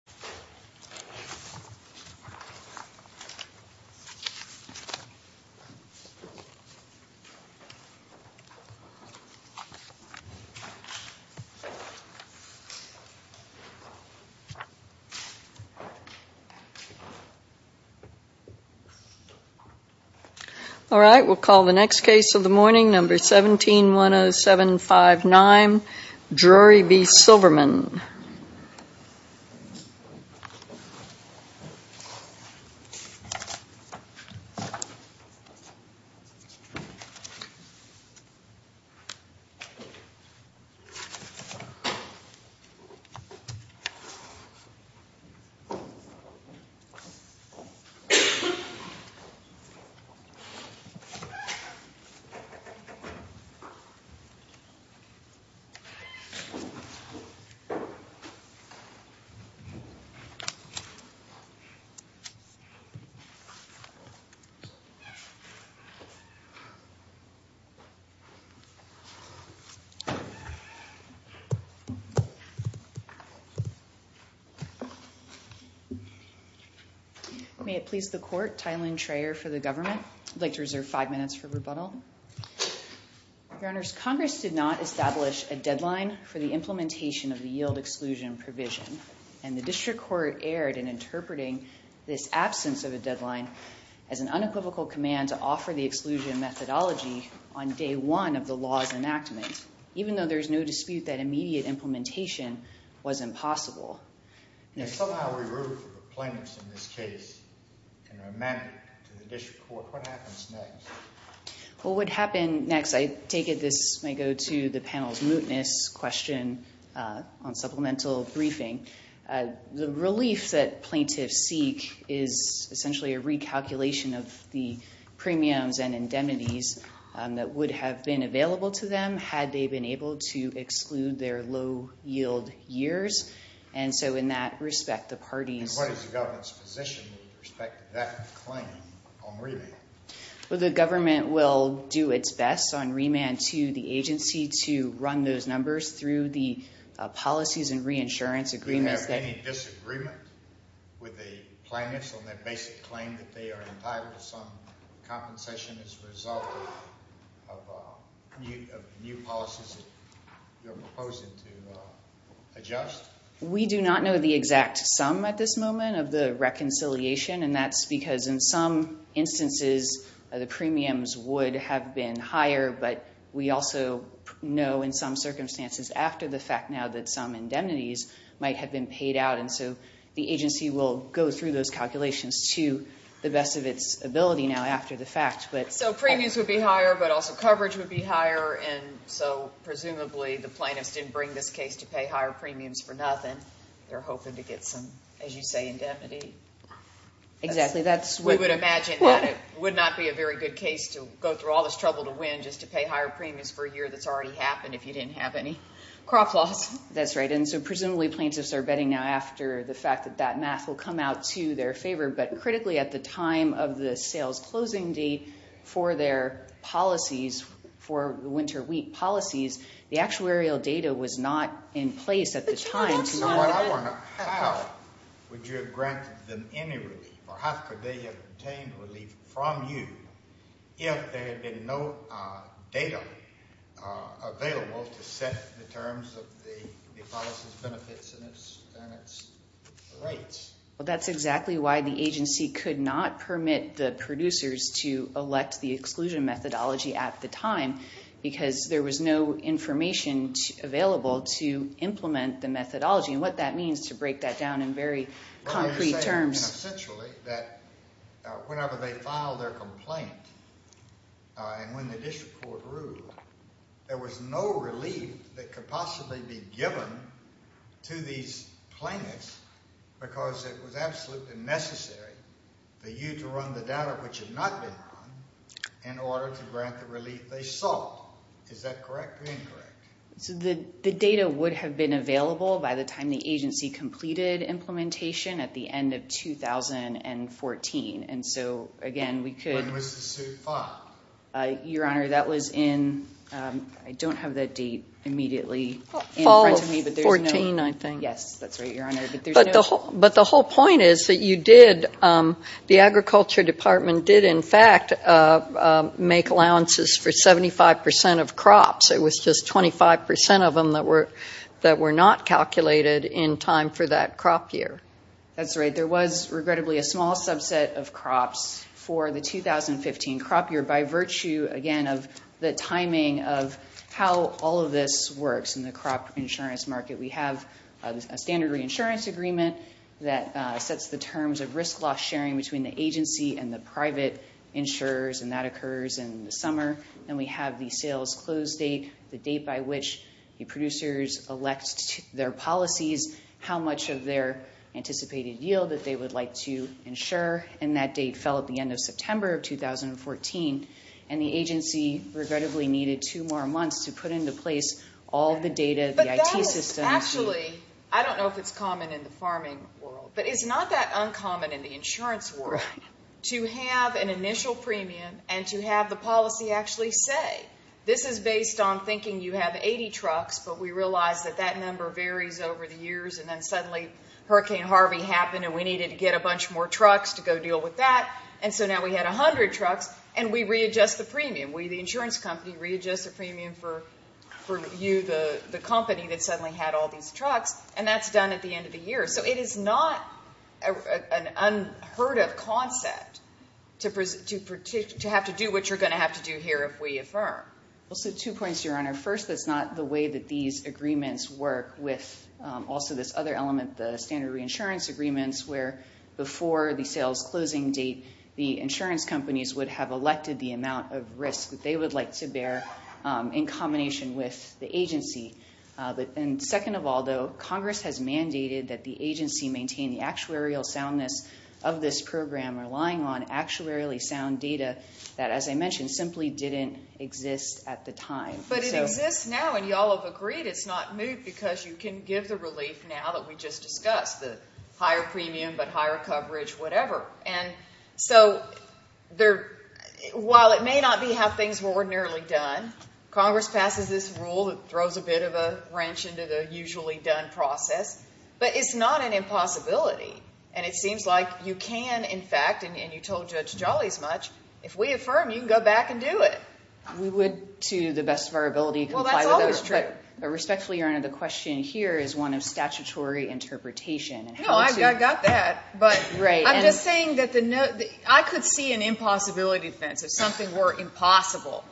All right, we'll call the next case of the morning, number 1710759, Drury B. Silberman. Mm hmm. Mm hmm. Mm hmm. Mm hmm. Mm hmm. Mm hmm. Mm hmm. Mm hmm. Mm hmm. Mm hmm. Mm hmm. Mm hmm. Mm hmm. Mm hmm. Mm hmm. Mm hmm. Mm hmm. Mm hmm. Mm hmm. Mm hmm. May it please the court. And somehow we root for the plaintiffs in this case and amend it to the district court. What happens next? What would happen next? I take it this may go to the panel's mootness question on supplemental briefing. The relief that plaintiffs seek is essentially a recalculation of the premiums and indemnities that would have been available to them had they been able to exclude their low yield years. And so in that respect, the parties... And what is the government's position with respect to that claim on remand? Well, the government will do its best on remand to the agency to run those numbers through the policies and reinsurance agreements that... We do not know the exact sum at this moment of the reconciliation, and that's because in some instances the premiums would have been higher, but we also know in some circumstances after the fact now that some indemnities might have been paid out. And so the agency will go through those calculations to the best of its ability now after the fact. So premiums would be higher, but also coverage would be higher, and so presumably the plaintiffs didn't bring this case to pay higher premiums for nothing. They're hoping to get some, as you say, indemnity. Exactly. We would imagine that it would not be a very good case to go through all this trouble to win just to pay higher premiums for a year that's already happened if you didn't have any crop loss. That's right. And so presumably plaintiffs are betting now after the fact that that math will come out to their favor, but critically at the time of the sales closing date for their policies, for the winter wheat policies, the actuarial data was not in place at the time. How would you have granted them any relief, or how could they have obtained relief from you if there had been no data available to set the terms of the policy's benefits and its rates? Well, that's exactly why the agency could not permit the producers to elect the exclusion methodology at the time because there was no information available to implement the methodology and what that means to break that down in very concrete terms. And essentially that whenever they filed their complaint and when the district court ruled, there was no relief that could possibly be given to these plaintiffs because it was absolutely necessary for you to run the data, which had not been run, in order to grant the relief they sought. Is that correct or incorrect? The data would have been available by the time the agency completed implementation at the end of 2014. And so, again, we could— When was the suit filed? Your Honor, that was in—I don't have that date immediately in front of me, but there's no— Fall of 14, I think. Yes, that's right, Your Honor. But the whole point is that you did—the Agriculture Department did, in fact, make allowances for 75 percent of crops. It was just 25 percent of them that were not calculated in time for that crop year. That's right. There was, regrettably, a small subset of crops for the 2015 crop year by virtue, again, of the timing of how all of this works in the crop insurance market. We have a standard reinsurance agreement that sets the terms of risk-loss sharing between the agency and the private insurers, and that occurs in the summer. And we have the sales close date, the date by which the producers elect their policies, how much of their anticipated yield that they would like to insure, and that date fell at the end of September of 2014. And the agency, regrettably, needed two more months to put into place all of the data, the IT system. But that is actually—I don't know if it's common in the farming world, but it's not that uncommon in the insurance world to have an initial premium and to have the policy actually say, this is based on thinking you have 80 trucks, but we realize that that number varies over the years, and then suddenly Hurricane Harvey happened and we needed to get a bunch more trucks to go deal with that, and so now we had 100 trucks, and we readjust the premium. We, the insurance company, readjust the premium for you, the company, that suddenly had all these trucks, and that's done at the end of the year. So it is not an unheard of concept to have to do what you're going to have to do here if we affirm. Well, so two points, Your Honor. First, that's not the way that these agreements work with also this other element, the standard reinsurance agreements, where before the sales closing date, the insurance companies would have elected the amount of risk that they would like to bear in combination with the agency. And second of all, though, Congress has mandated that the agency maintain the actuarial soundness of this program, relying on actuarially sound data that, as I mentioned, simply didn't exist at the time. But it exists now, and you all have agreed it's not moot because you can give the relief now that we just discussed, the higher premium but higher coverage, whatever. And so while it may not be how things were ordinarily done, Congress passes this rule that throws a bit of a wrench into the usually done process, but it's not an impossibility. And it seems like you can, in fact, and you told Judge Jolly as much, if we affirm, you can go back and do it. We would, to the best of our ability, comply with it. Well, that's always true. But respectfully, Your Honor, the question here is one of statutory interpretation. No, I've got that. But I'm just saying that I could see an impossibility fence if something were impossible.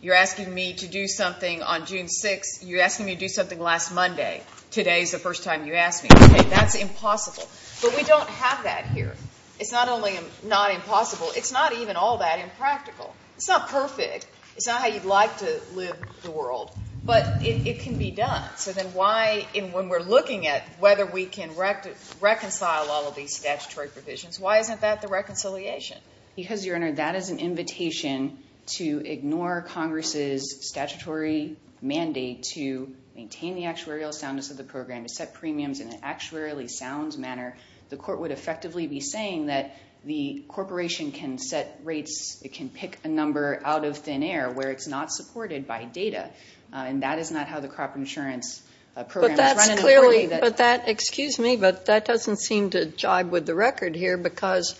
You're asking me to do something on June 6th. You're asking me to do something last Monday. Today is the first time you asked me. Okay, that's impossible. But we don't have that here. It's not only not impossible. It's not even all that impractical. It's not perfect. It's not how you'd like to live the world. But it can be done. So then why, when we're looking at whether we can reconcile all of these statutory provisions, why isn't that the reconciliation? Because, Your Honor, that is an invitation to ignore Congress's statutory mandate to maintain the actuarial soundness of the program, to set premiums in an actuarially sound manner. The court would effectively be saying that the corporation can set rates, it can pick a number out of thin air where it's not supported by data. And that is not how the crop insurance program is run. But that's clearly, but that, excuse me, but that doesn't seem to jibe with the record here because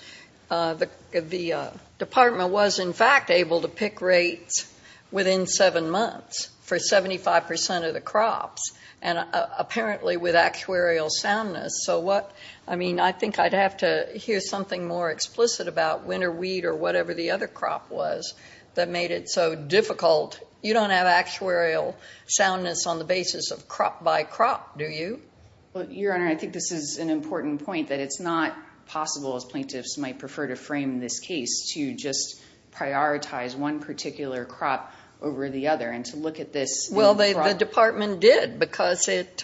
the department was, in fact, able to pick rates within seven months for 75% of the crops, and apparently with actuarial soundness. So what, I mean, I think I'd have to hear something more explicit about winter wheat or whatever the other crop was that made it so difficult. You don't have actuarial soundness on the basis of crop by crop, do you? Well, Your Honor, I think this is an important point, that it's not possible, as plaintiffs might prefer to frame this case, to just prioritize one particular crop over the other and to look at this in front. Well, the department did because it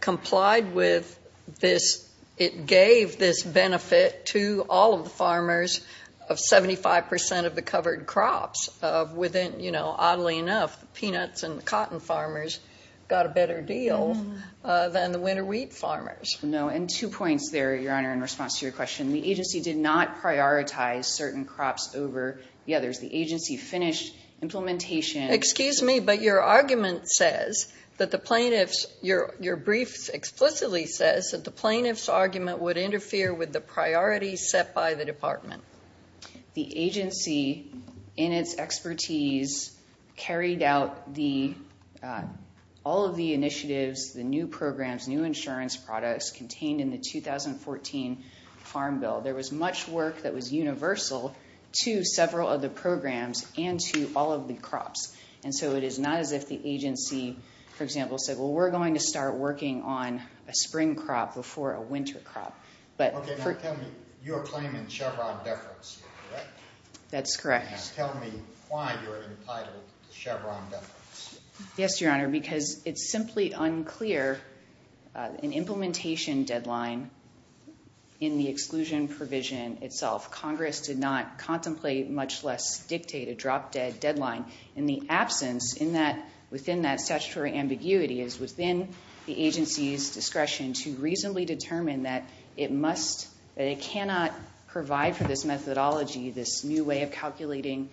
complied with this. It gave this benefit to all of the farmers of 75% of the covered crops within, you know, oddly enough, the peanuts and the cotton farmers got a better deal than the winter wheat farmers. No, and two points there, Your Honor, in response to your question. The agency did not prioritize certain crops over the others. The agency finished implementation. Excuse me, but your argument says that the plaintiff's, your brief explicitly says that the plaintiff's argument would interfere with the priorities set by the department. The agency, in its expertise, carried out all of the initiatives, the new programs, new insurance products contained in the 2014 Farm Bill. There was much work that was universal to several of the programs and to all of the crops. And so it is not as if the agency, for example, said, well, we're going to start working on a spring crop before a winter crop. Okay, now tell me, you're claiming Chevron deference here, correct? That's correct. Now tell me why you're entitled to Chevron deference. Yes, Your Honor, because it's simply unclear an implementation deadline in the exclusion provision itself. Congress did not contemplate, much less dictate a drop dead deadline in the absence in that, within that statutory ambiguity is within the agency's discretion to reasonably determine that it must, that it cannot provide for this methodology, this new way of calculating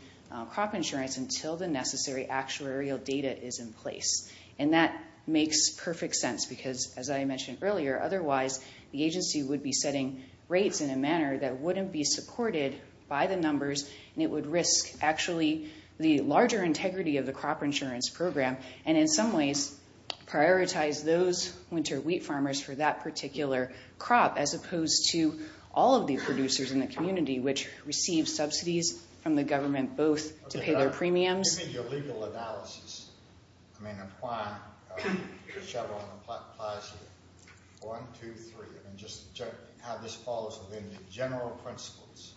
crop insurance until the necessary actuarial data is in place. And that makes perfect sense because, as I mentioned earlier, otherwise, the agency would be setting rates in a manner that wouldn't be supported by the numbers, and it would risk, actually, the larger integrity of the crop insurance program, and in some ways, prioritize those winter wheat farmers for that particular crop, as opposed to all of the producers in the community, which receive subsidies from the government, both to pay their premiums. Okay, now give me your legal analysis. I mean, applying Chevron applies here. One, two, three, and just how this falls within the general principles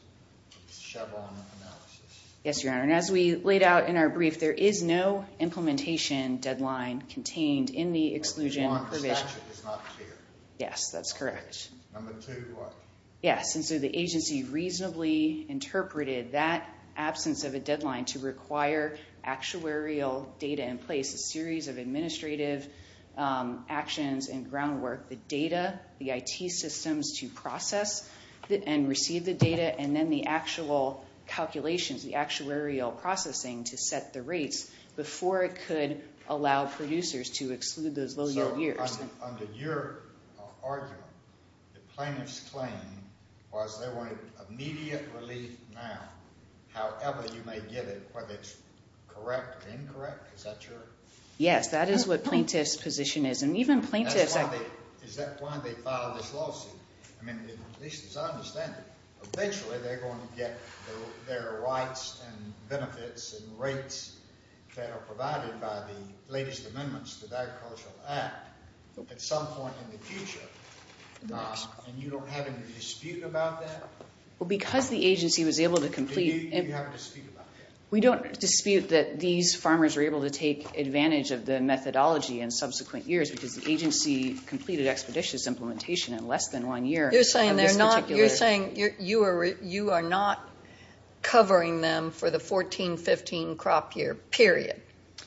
of Chevron analysis. Yes, Your Honor, and as we laid out in our brief, there is no implementation deadline contained in the exclusion provision. Yes, that's correct. Yes, and so the agency reasonably interpreted that absence of a deadline to require actuarial data in place, a series of administrative actions and groundwork, the data, the IT systems to process and receive the data, and then the actual calculations, the actuarial processing to set the rates, before it could allow producers to exclude those low yield years. So under your argument, the plaintiff's claim was there were immediate relief now, however you may get it, whether it's correct or incorrect, is that true? Yes, that is what plaintiff's position is, and even plaintiffs… Is that why they filed this lawsuit? I mean, at least as I understand it, eventually they're going to get their rights and benefits and rates that are provided by the latest amendments to the Agricultural Act at some point in the future, and you don't have any dispute about that? Well, because the agency was able to complete… Do you have a dispute about that? We don't dispute that these farmers were able to take advantage of the methodology in subsequent years because the agency completed expeditious implementation in less than one year. You're saying you are not covering them for the 2014-15 crop year, period.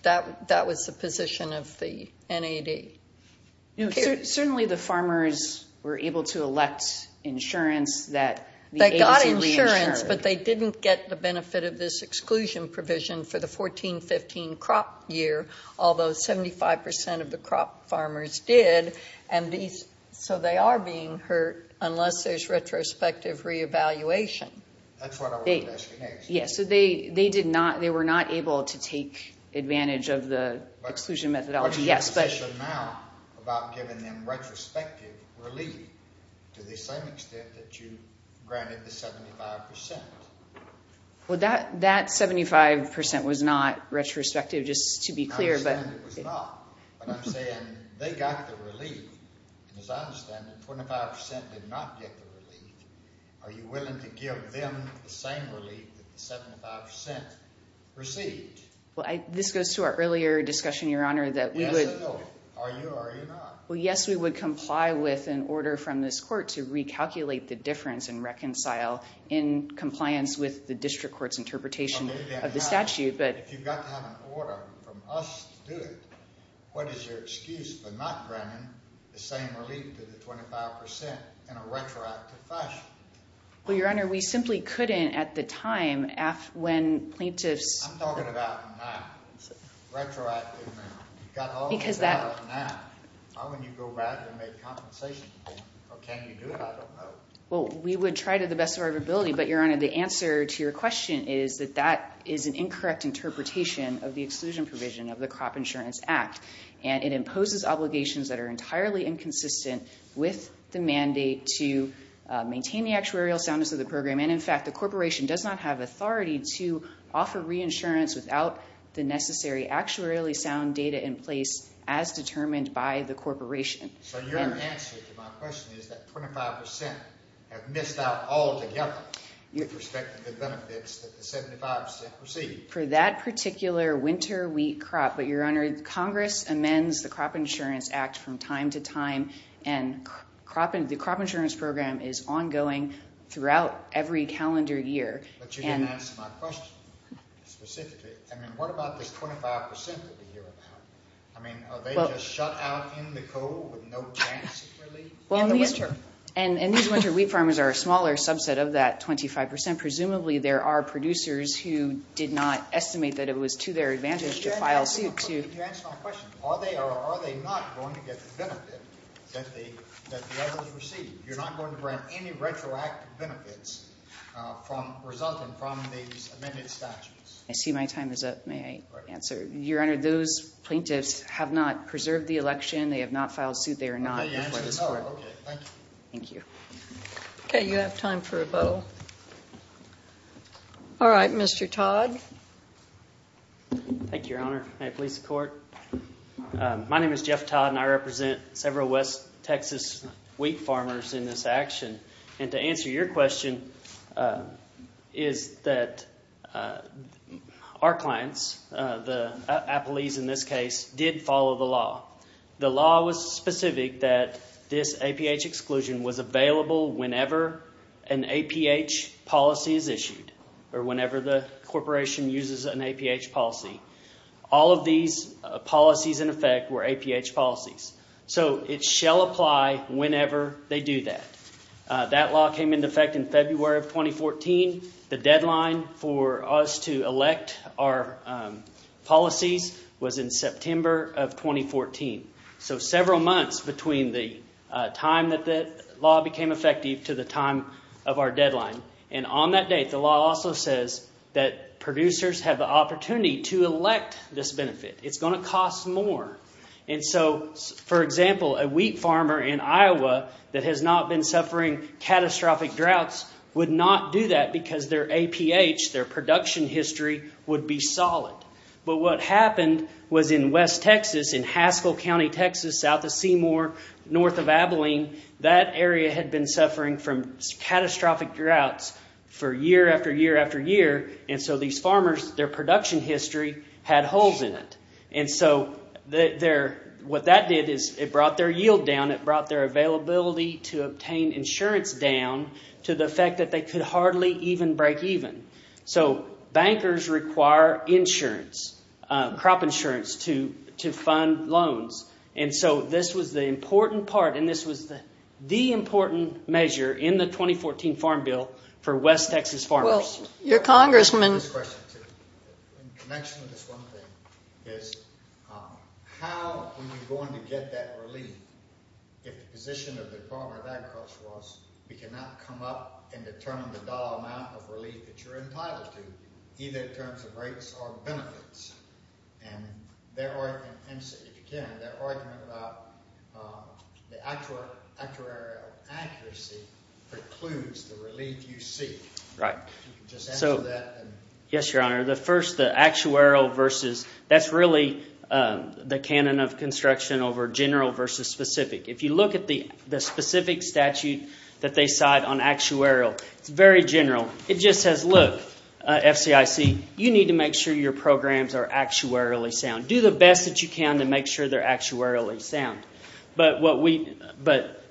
That was the position of the NAD. Certainly the farmers were able to elect insurance that… They got insurance, but they didn't get the benefit of this exclusion provision for the 2014-15 crop year, although 75% of the crop farmers did, and so they are being hurt unless there's retrospective re-evaluation. That's what I wanted to ask you next. Yes, so they were not able to take advantage of the exclusion methodology. What's your position now about giving them retrospective relief to the same extent that you granted the 75%? Well, that 75% was not retrospective, just to be clear. I understand it was not, but I'm saying they got the relief. As I understand it, 25% did not get the relief. Are you willing to give them the same relief that the 75% received? Well, this goes to our earlier discussion, Your Honor, that we would… Yes or no? Are you or are you not? Well, yes, we would comply with an order from this court to recalculate the difference and reconcile in compliance with the district court's interpretation of the statute, but… If you've got to have an order from us to do it, what is your excuse for not granting the same relief to the 25% in a retroactive fashion? Well, Your Honor, we simply couldn't at the time when plaintiffs… I'm talking about now, retroactively now. Because that… You've got all the data now. Why wouldn't you go back and make compensation for them? Or can you do it? I don't know. Well, we would try to the best of our ability, but Your Honor, the answer to your question is that that is an incorrect interpretation of the exclusion provision of the Crop Insurance Act. And it imposes obligations that are entirely inconsistent with the mandate to maintain the actuarial soundness of the program. And, in fact, the corporation does not have authority to offer reinsurance without the necessary actuarially sound data in place as determined by the corporation. So your answer to my question is that 25% have missed out altogether with respect to the benefits that the 75% received. But, Your Honor, Congress amends the Crop Insurance Act from time to time, and the crop insurance program is ongoing throughout every calendar year. But you didn't answer my question specifically. I mean, what about this 25% that we hear about? I mean, are they just shut out in the cold with no chance of relief in the winter? And these winter wheat farmers are a smaller subset of that 25%. Presumably there are producers who did not estimate that it was to their advantage to file suit. If you answer my question, are they not going to get the benefit that the others received? You're not going to grant any retroactive benefits resulting from these amended statutes? I see my time is up. May I answer? Your Honor, those plaintiffs have not preserved the election. They have not filed suit. Oh, okay. Thank you. Thank you. Okay, you have time for a vote. All right, Mr. Todd. Thank you, Your Honor. May it please the Court? My name is Jeff Todd, and I represent several West Texas wheat farmers in this action. And to answer your question is that our clients, the Applees in this case, did follow the law. The law was specific that this APH exclusion was available whenever an APH policy is issued or whenever the corporation uses an APH policy. All of these policies, in effect, were APH policies. So it shall apply whenever they do that. That law came into effect in February of 2014. The deadline for us to elect our policies was in September of 2014. So several months between the time that the law became effective to the time of our deadline. And on that date, the law also says that producers have the opportunity to elect this benefit. It's going to cost more. And so, for example, a wheat farmer in Iowa that has not been suffering catastrophic droughts would not do that because their APH, their production history, would be solid. But what happened was in West Texas, in Haskell County, Texas, south of Seymour, north of Abilene, that area had been suffering from catastrophic droughts for year after year after year. And so these farmers, their production history had holes in it. And so what that did is it brought their yield down. It brought their availability to obtain insurance down to the effect that they could hardly even break even. So bankers require insurance, crop insurance, to fund loans. And so this was the important part, and this was the important measure in the 2014 Farm Bill for West Texas farmers. I have this question, too, in connection with this one thing, is how are we going to get that relief if the position of the Department of Agriculture was we cannot come up and determine the dollar amount of relief that you're entitled to, either in terms of rates or benefits? And if you can, their argument about the actuarial accuracy precludes the relief you seek. Right. Just answer that. Yes, Your Honor. The first, the actuarial versus, that's really the canon of construction over general versus specific. If you look at the specific statute that they cite on actuarial, it's very general. It just says, look, FCIC, you need to make sure your programs are actuarially sound. Do the best that you can to make sure they're actuarially sound. But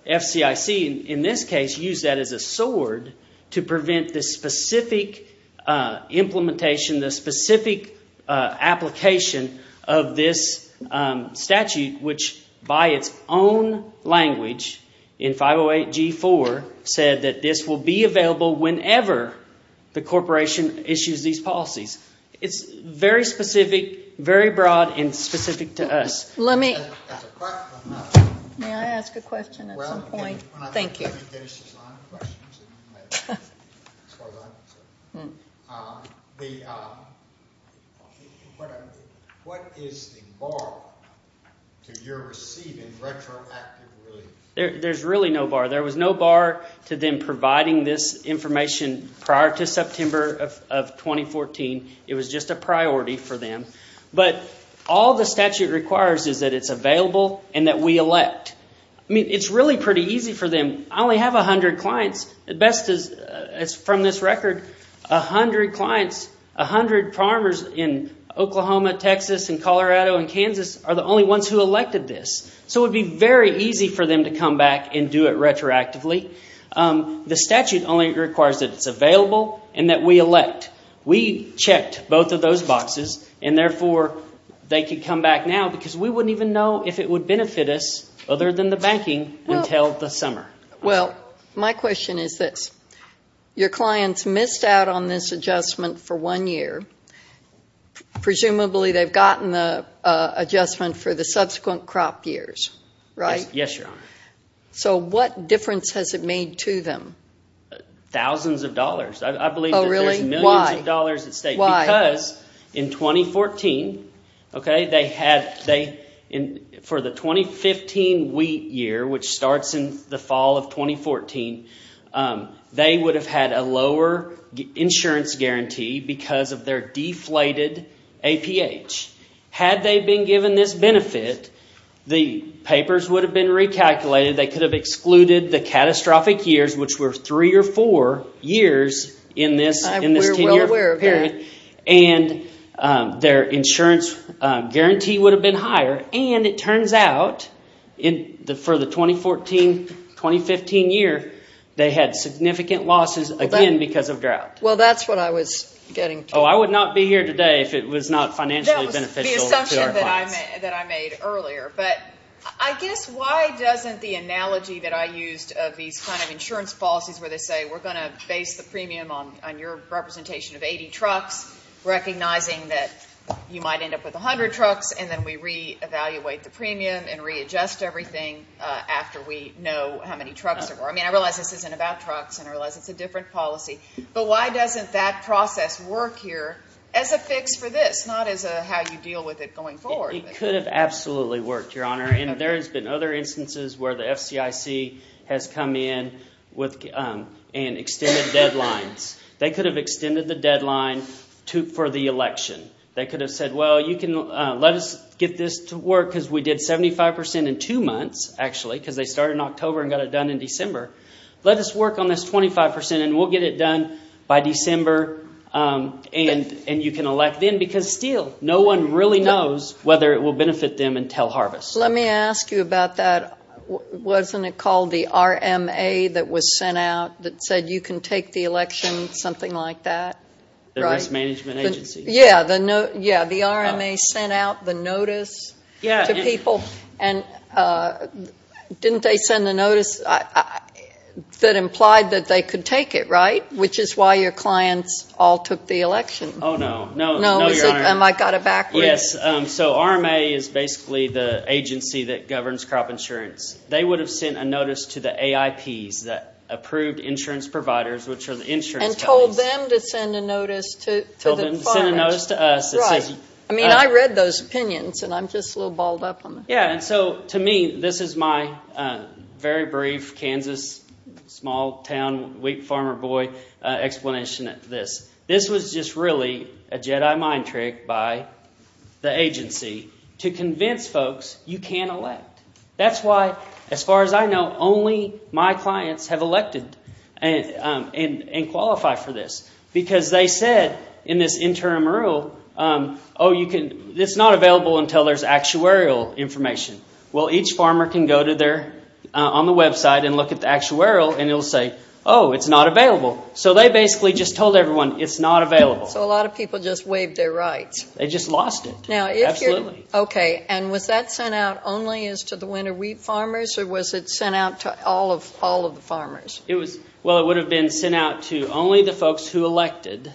FCIC, in this case, used that as a sword to prevent the specific implementation, the specific application of this statute, which by its own language in 508G4, said that this will be available whenever the corporation issues these policies. It's very specific, very broad, and specific to us. May I ask a question at some point? Thank you. What is the bar to your receiving retroactive relief? There's really no bar. There was no bar to them providing this information prior to September of 2014. It was just a priority for them. But all the statute requires is that it's available and that we elect. I mean, it's really pretty easy for them. I only have 100 clients. From this record, 100 clients, 100 farmers in Oklahoma, Texas, and Colorado, and Kansas are the only ones who elected this. So it would be very easy for them to come back and do it retroactively. The statute only requires that it's available and that we elect. We checked both of those boxes, and therefore they could come back now because we wouldn't even know if it would benefit us other than the banking until the summer. Well, my question is this. Your clients missed out on this adjustment for one year. Presumably they've gotten the adjustment for the subsequent crop years, right? Yes, Your Honor. So what difference has it made to them? Thousands of dollars. I believe that there's millions of dollars at stake. Why? Because in 2014, for the 2015 wheat year, which starts in the fall of 2014, they would have had a lower insurance guarantee because of their deflated APH. Had they been given this benefit, the papers would have been recalculated. They could have excluded the catastrophic years, which were three or four years in this 10-year period, and their insurance guarantee would have been higher. And it turns out, for the 2014-2015 year, they had significant losses again because of drought. Well, that's what I was getting to. Oh, I would not be here today if it was not financially beneficial to our clients. That was the assumption that I made earlier. But I guess why doesn't the analogy that I used of these kind of insurance policies where they say we're going to base the premium on your representation of 80 trucks, recognizing that you might end up with 100 trucks, and then we reevaluate the premium and readjust everything after we know how many trucks there were. I mean, I realize this isn't about trucks, and I realize it's a different policy. But why doesn't that process work here as a fix for this, not as how you deal with it going forward? Well, it could have absolutely worked, Your Honor. And there has been other instances where the FCIC has come in and extended deadlines. They could have extended the deadline for the election. They could have said, well, you can let us get this to work because we did 75% in two months, actually, because they started in October and got it done in December. Let us work on this 25%, and we'll get it done by December, and you can elect then. Because still, no one really knows whether it will benefit them until harvest. Let me ask you about that. Wasn't it called the RMA that was sent out that said you can take the election, something like that? The Risk Management Agency. Yeah, the RMA sent out the notice to people. And didn't they send a notice that implied that they could take it, right, which is why your clients all took the election? Oh, no. No, Your Honor. I got it backwards. Yes. So RMA is basically the agency that governs crop insurance. They would have sent a notice to the AIPs, the approved insurance providers, which are the insurance companies. And told them to send a notice to the farmers. Sent a notice to us. Right. I mean, I read those opinions, and I'm just a little balled up on it. Yeah. And so, to me, this is my very brief Kansas, small town, weak farmer boy explanation of this. This was just really a Jedi mind trick by the agency to convince folks you can't elect. That's why, as far as I know, only my clients have elected and qualify for this. Because they said in this interim rule, oh, it's not available until there's actuarial information. Well, each farmer can go on the website and look at the actuarial, and it will say, oh, it's not available. So they basically just told everyone it's not available. So a lot of people just waived their rights. They just lost it. Absolutely. Okay. And was that sent out only as to the winter wheat farmers, or was it sent out to all of the farmers? Well, it would have been sent out to only the folks who elected.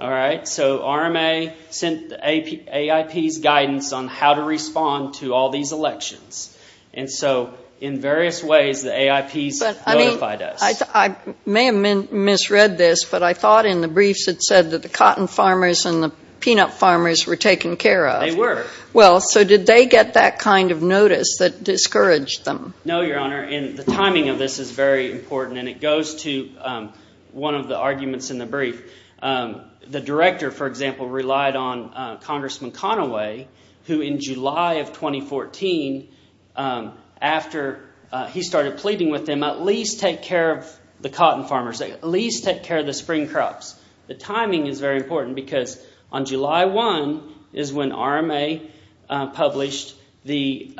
All right. So RMA sent the AIPs guidance on how to respond to all these elections. And so, in various ways, the AIPs notified us. I may have misread this, but I thought in the briefs it said that the cotton farmers and the peanut farmers were taken care of. They were. Well, so did they get that kind of notice that discouraged them? No, Your Honor. And the timing of this is very important, and it goes to one of the arguments in the brief. The director, for example, relied on Congressman Conaway, who in July of 2014, after he started pleading with them, at least take care of the cotton farmers, at least take care of the spring crops. The timing is very important because on July 1 is when RMA published the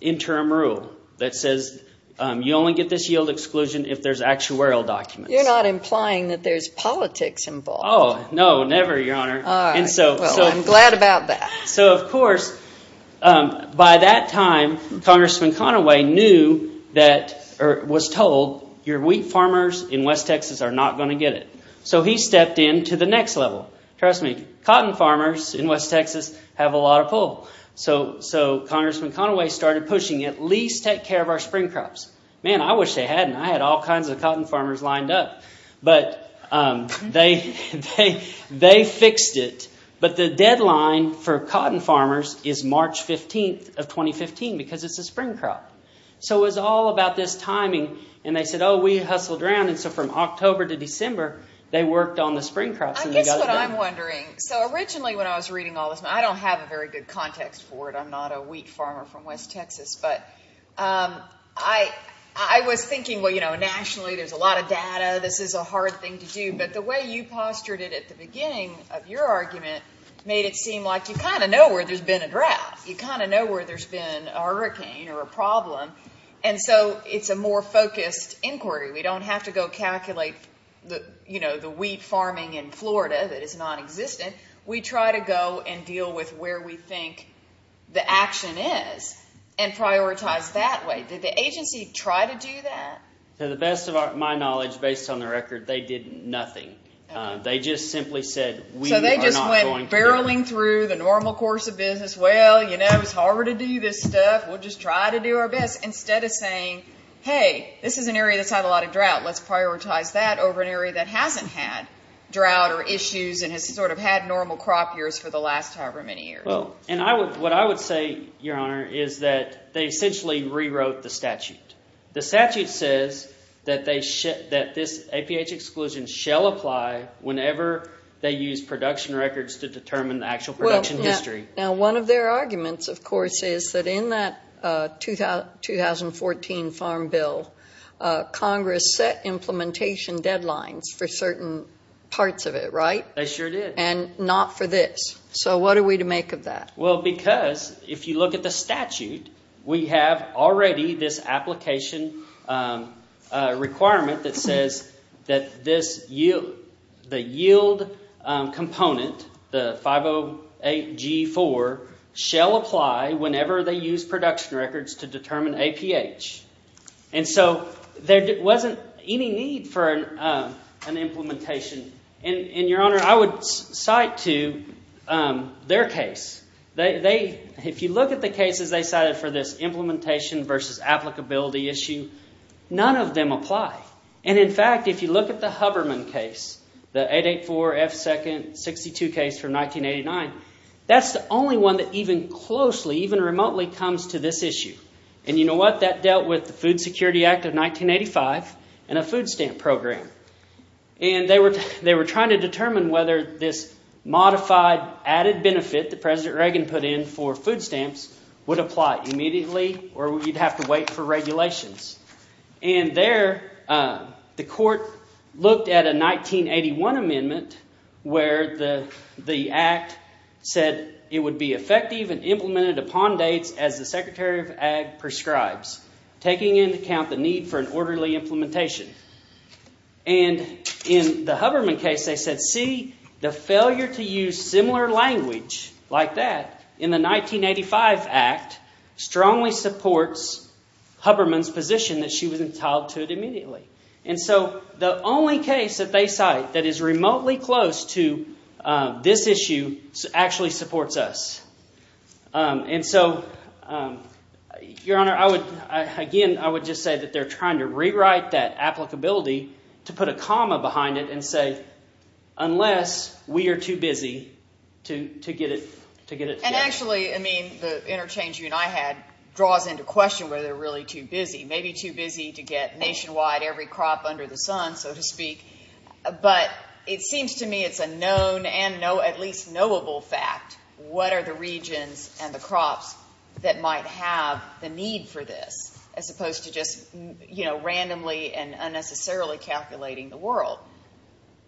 interim rule that says you only get this yield exclusion if there's actuarial documents. You're not implying that there's politics involved. Oh, no, never, Your Honor. All right. Well, I'm glad about that. So, of course, by that time, Congressman Conaway was told your wheat farmers in West Texas are not going to get it. So he stepped in to the next level. Trust me, cotton farmers in West Texas have a lot of pull. So Congressman Conaway started pushing at least take care of our spring crops. Man, I wish they hadn't. I had all kinds of cotton farmers lined up, but they fixed it. But the deadline for cotton farmers is March 15 of 2015 because it's a spring crop. So it was all about this timing, and they said, oh, we hustled around. And so from October to December, they worked on the spring crops. I guess what I'm wondering, so originally when I was reading all this, and I don't have a very good context for it. I'm not a wheat farmer from West Texas. But I was thinking, well, you know, nationally there's a lot of data. This is a hard thing to do. But the way you postured it at the beginning of your argument made it seem like you kind of know where there's been a drought. You kind of know where there's been a hurricane or a problem. And so it's a more focused inquiry. We don't have to go calculate, you know, the wheat farming in Florida that is nonexistent. We try to go and deal with where we think the action is and prioritize that way. Did the agency try to do that? To the best of my knowledge, based on the record, they did nothing. They just simply said we are not going to do it. So they just went barreling through the normal course of business. Well, you know, it's harder to do this stuff. We'll just try to do our best. Instead of saying, hey, this is an area that's had a lot of drought. Let's prioritize that over an area that hasn't had drought or issues and has sort of had normal crop years for the last however many years. And what I would say, Your Honor, is that they essentially rewrote the statute. The statute says that this APH exclusion shall apply whenever they use production records to determine the actual production history. Now, one of their arguments, of course, is that in that 2014 farm bill, Congress set implementation deadlines for certain parts of it, right? They sure did. And not for this. So what are we to make of that? Well, because if you look at the statute, we have already this application requirement that says that the yield component, the 508G4, shall apply whenever they use production records to determine APH. And so there wasn't any need for an implementation. And, Your Honor, I would cite to their case. If you look at the cases they cited for this implementation versus applicability issue, none of them apply. And, in fact, if you look at the Hubberman case, the 884F2nd62 case from 1989, that's the only one that even closely, even remotely, comes to this issue. And you know what? That dealt with the Food Security Act of 1985 and a food stamp program. And they were trying to determine whether this modified added benefit that President Reagan put in for food stamps would apply immediately or you'd have to wait for regulations. And there the court looked at a 1981 amendment where the act said it would be effective and implemented upon dates as the Secretary of Ag prescribes, taking into account the need for an orderly implementation. And in the Hubberman case they said, see, the failure to use similar language like that in the 1985 act strongly supports Hubberman's position that she was entitled to it immediately. And so the only case that they cite that is remotely close to this issue actually supports us. And so, Your Honor, I would, again, I would just say that they're trying to rewrite that applicability to put a comma behind it and say, unless we are too busy to get it. And actually, I mean, the interchange you and I had draws into question whether they're really too busy, maybe too busy to get nationwide every crop under the sun, so to speak. But it seems to me it's a known and at least knowable fact. What are the regions and the crops that might have the need for this as opposed to just randomly and unnecessarily calculating the world?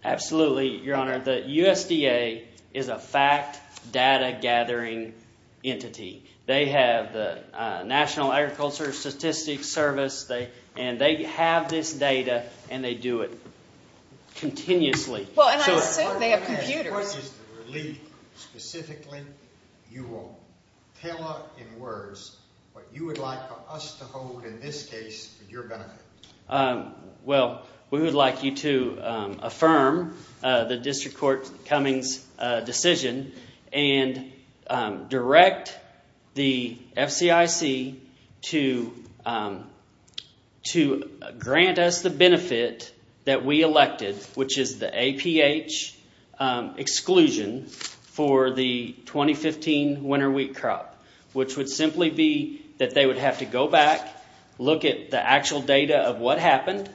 Absolutely, Your Honor. The USDA is a fact data gathering entity. They have the National Agriculture Statistics Service, and they have this data, and they do it continuously. Well, and I assume they have computers. What is the relief specifically? You will tell us in words what you would like for us to hold in this case for your benefit. Well, we would like you to affirm the District Court Cummings decision and direct the FCIC to grant us the benefit that we elected, which is the APH exclusion for the 2015 winter wheat crop, which would simply be that they would have to go back, look at the actual data of what happened,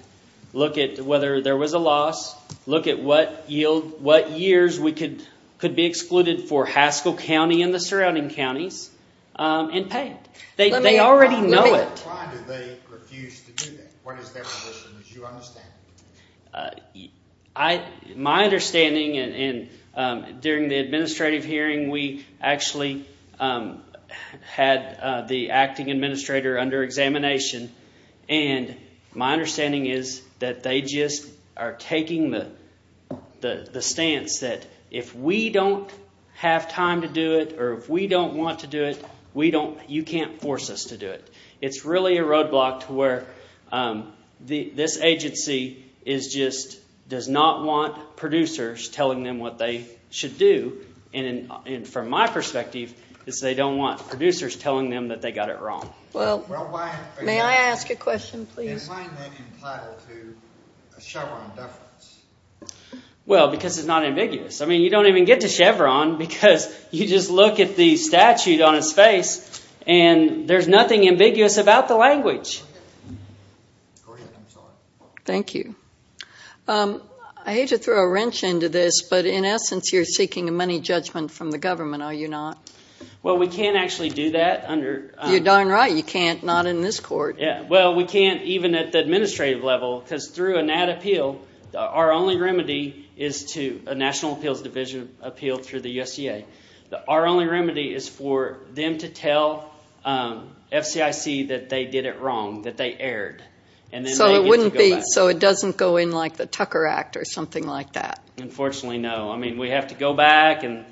look at whether there was a loss, look at what years could be excluded for Haskell County and the surrounding counties, and pay it. They already know it. Why do they refuse to do that? What is their position, as you understand it? My understanding, and during the administrative hearing we actually had the acting administrator under examination, and my understanding is that they just are taking the stance that if we don't have time to do it or if we don't want to do it, you can't force us to do it. It's really a roadblock to where this agency just does not want producers telling them what they should do. And from my perspective, they don't want producers telling them that they got it wrong. May I ask a question, please? Why is that entitled to a Chevron deference? Well, because it's not ambiguous. I mean, you don't even get to Chevron because you just look at the statute on its face, and there's nothing ambiguous about the language. Thank you. I hate to throw a wrench into this, but in essence you're seeking a money judgment from the government, are you not? Well, we can't actually do that. You're darn right you can't, not in this court. Well, we can't even at the administrative level, because through a NAT appeal, our only remedy is to a National Appeals Division appeal through the USDA. Our only remedy is for them to tell FCIC that they did it wrong, that they erred. So it doesn't go in like the Tucker Act or something like that? Unfortunately, no. I mean, we have to go back, and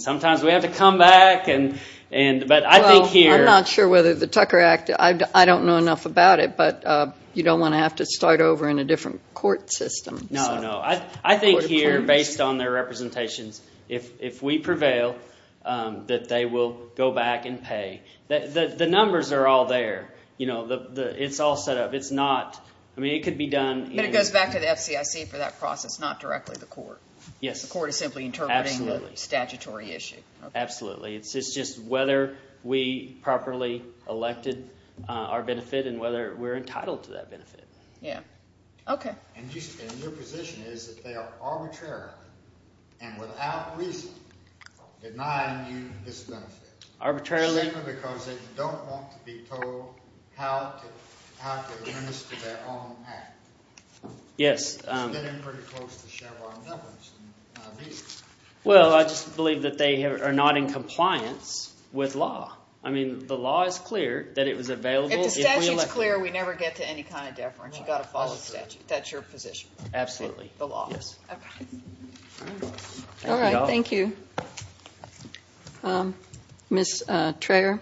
sometimes we have to come back. Well, I'm not sure whether the Tucker Act, I don't know enough about it, but you don't want to have to start over in a different court system. No, no. I think here, based on their representations, if we prevail, that they will go back and pay. The numbers are all there. It's all set up. I mean, it could be done. But it goes back to the FCIC for that process, not directly the court. Yes. The court is simply interpreting the statutory issue. Absolutely. It's just whether we properly elected our benefit and whether we're entitled to that benefit. Yes. Okay. And your position is that they are arbitrarily and without reason denying you this benefit. Arbitrarily. Simply because they don't want to be told how to administer their own act. Yes. It's getting pretty close to Chevron numbers. Well, I just believe that they are not in compliance with law. I mean, the law is clear that it was available. If the statute is clear, we never get to any kind of deference. You've got to follow the statute. That's your position. Absolutely. The law. Yes. Okay. All right. Thank you. Ms. Traer?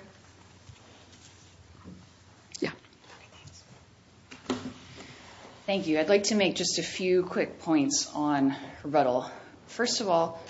Yes. Okay. Thanks. Thank you. I'd like to make just a few quick points on rebuttal. First of all,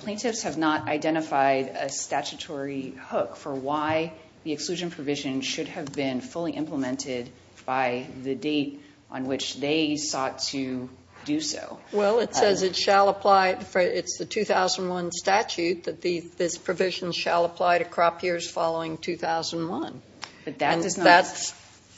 plaintiffs have not identified a statutory hook for why the exclusion provision should have been fully implemented by the date on which they sought to do so. Well, it says it shall apply. It's the 2001 statute that this provision shall apply to crop years following 2001. And that's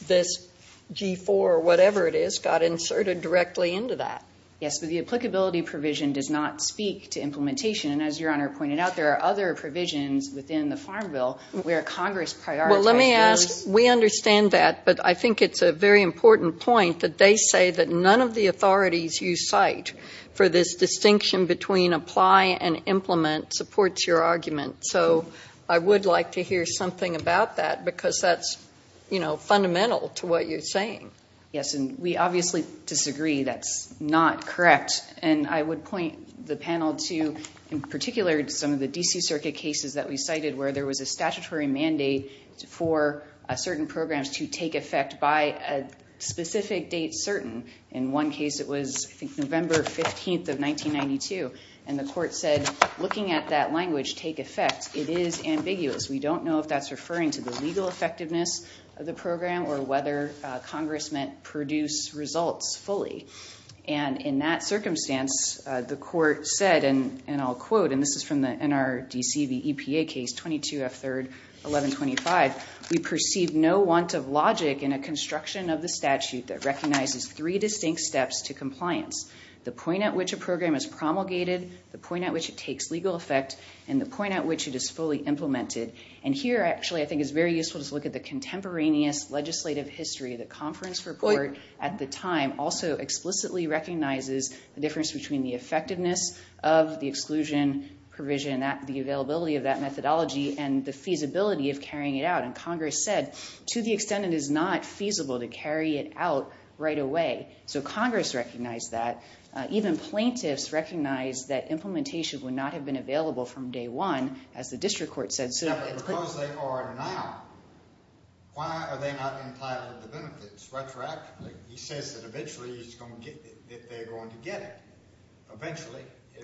this G4, whatever it is, got inserted directly into that. Yes, but the applicability provision does not speak to implementation. And as Your Honor pointed out, there are other provisions within the Farm Bill where Congress prioritizes. Well, let me ask. We understand that, but I think it's a very important point that they say that none of the authorities you cite for this distinction between apply and implement supports your argument. So I would like to hear something about that because that's, you know, fundamental to what you're saying. Yes, and we obviously disagree. That's not correct. And I would point the panel to, in particular, some of the D.C. Circuit cases that we cited where there was a statutory mandate for certain programs to take effect by a specific date certain. In one case, it was, I think, November 15th of 1992. And the court said, looking at that language, take effect. It is ambiguous. We don't know if that's referring to the legal effectiveness of the program or whether Congress meant produce results fully. And in that circumstance, the court said, and I'll quote, and this is from the NRDC, the EPA case, 22F3-1125. We perceive no want of logic in a construction of the statute that recognizes three distinct steps to compliance. The point at which a program is promulgated, the point at which it takes legal effect, and the point at which it is fully implemented. And here, actually, I think it's very useful to look at the contemporaneous legislative history. The conference report at the time also explicitly recognizes the difference between the effectiveness of the exclusion provision, the availability of that methodology, and the feasibility of carrying it out. And Congress said, to the extent it is not feasible to carry it out right away. So Congress recognized that. Even plaintiffs recognized that implementation would not have been available from day one, as the district court said. But because they are now, why are they not entitled to benefits retroactively? He says that eventually he's going to get it, that they're going to get it eventually.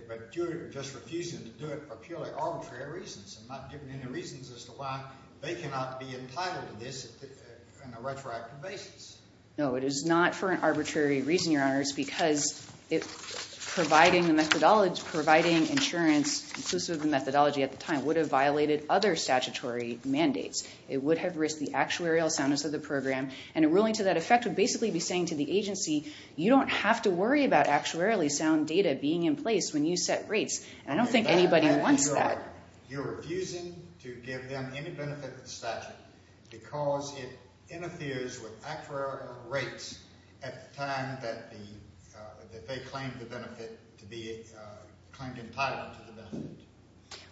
But you're just refusing to do it for purely arbitrary reasons and not giving any reasons as to why they cannot be entitled to this on a retroactive basis. No, it is not for an arbitrary reason, Your Honors. Because providing insurance, inclusive of the methodology at the time, would have violated other statutory mandates. It would have risked the actuarial soundness of the program. And a ruling to that effect would basically be saying to the agency, you don't have to worry about actuarially sound data being in place when you set rates. And I don't think anybody wants that. You're refusing to give them any benefit of the statute because it interferes with actuarial rates at the time that they claimed the benefit to be claimed entitled to the benefit.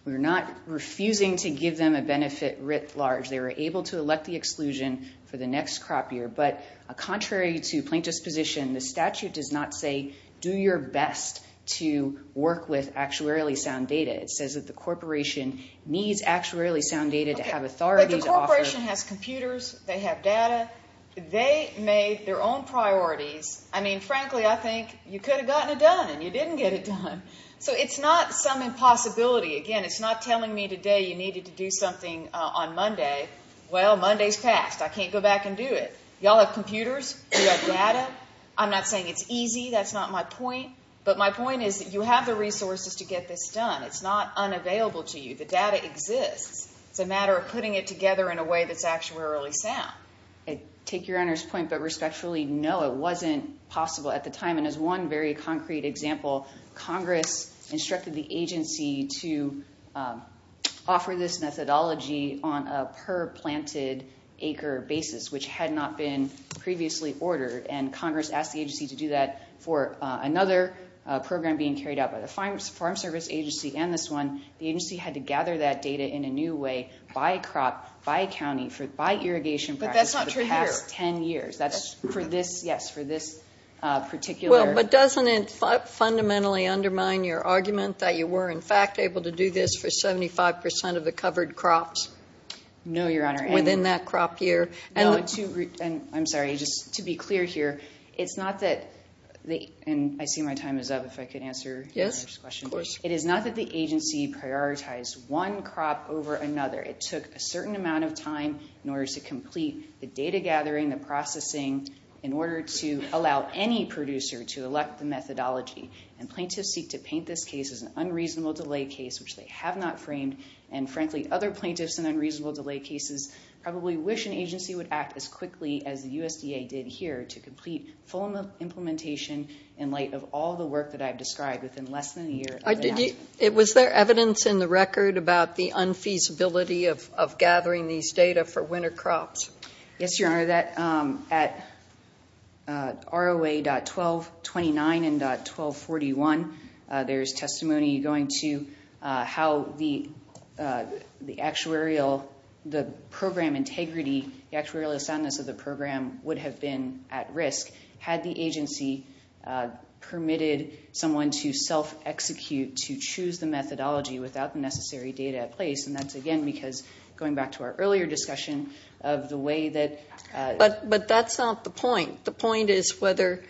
We're not refusing to give them a benefit writ large. They were able to elect the exclusion for the next crop year. But contrary to plaintiff's position, the statute does not say, do your best to work with actuarially sound data. It says that the corporation needs actuarially sound data to have authority to offer. But the corporation has computers. They have data. They made their own priorities. I mean, frankly, I think you could have gotten it done, and you didn't get it done. So it's not some impossibility. Again, it's not telling me today you needed to do something on Monday. Well, Monday's passed. I can't go back and do it. You all have computers. You have data. I'm not saying it's easy. That's not my point. But my point is that you have the resources to get this done. It's not unavailable to you. The data exists. It's a matter of putting it together in a way that's actuarially sound. Take your honor's point, but respectfully, no, it wasn't possible at the time. And as one very concrete example, Congress instructed the agency to offer this methodology on a per-planted acre basis, which had not been previously ordered. And Congress asked the agency to do that for another program being carried out by the Farm Service Agency and this one. The agency had to gather that data in a new way by crop, by county, by irrigation practice for the past 10 years. But that's not true here. That's for this, yes, for this particular. Well, but doesn't it fundamentally undermine your argument that you were, in fact, able to do this for 75 percent of the covered crops? No, your honor. Within that crop year. I'm sorry. Just to be clear here, it's not that, and I see my time is up, if I could answer your question. Yes, of course. It is not that the agency prioritized one crop over another. It took a certain amount of time in order to complete the data gathering, the processing, in order to allow any producer to elect the methodology. And plaintiffs seek to paint this case as an unreasonable delay case, which they have not framed. And frankly, other plaintiffs in unreasonable delay cases probably wish an agency would act as quickly as the USDA did here to complete full implementation in light of all the work that I've described within less than a year. Was there evidence in the record about the unfeasibility of gathering these data for winter crops? Yes, your honor. For that, at ROA.1229 and.1241, there is testimony going to how the actuarial, the program integrity, the actuarial soundness of the program would have been at risk had the agency permitted someone to self-execute to choose the methodology without the necessary data at place. And that's, again, because going back to our earlier discussion of the way that. But that's not the point. The point is whether.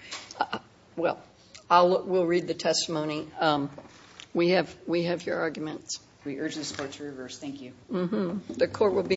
Well, we'll read the testimony. We have we have your arguments. We urge this court to reverse. Thank you. The court will be.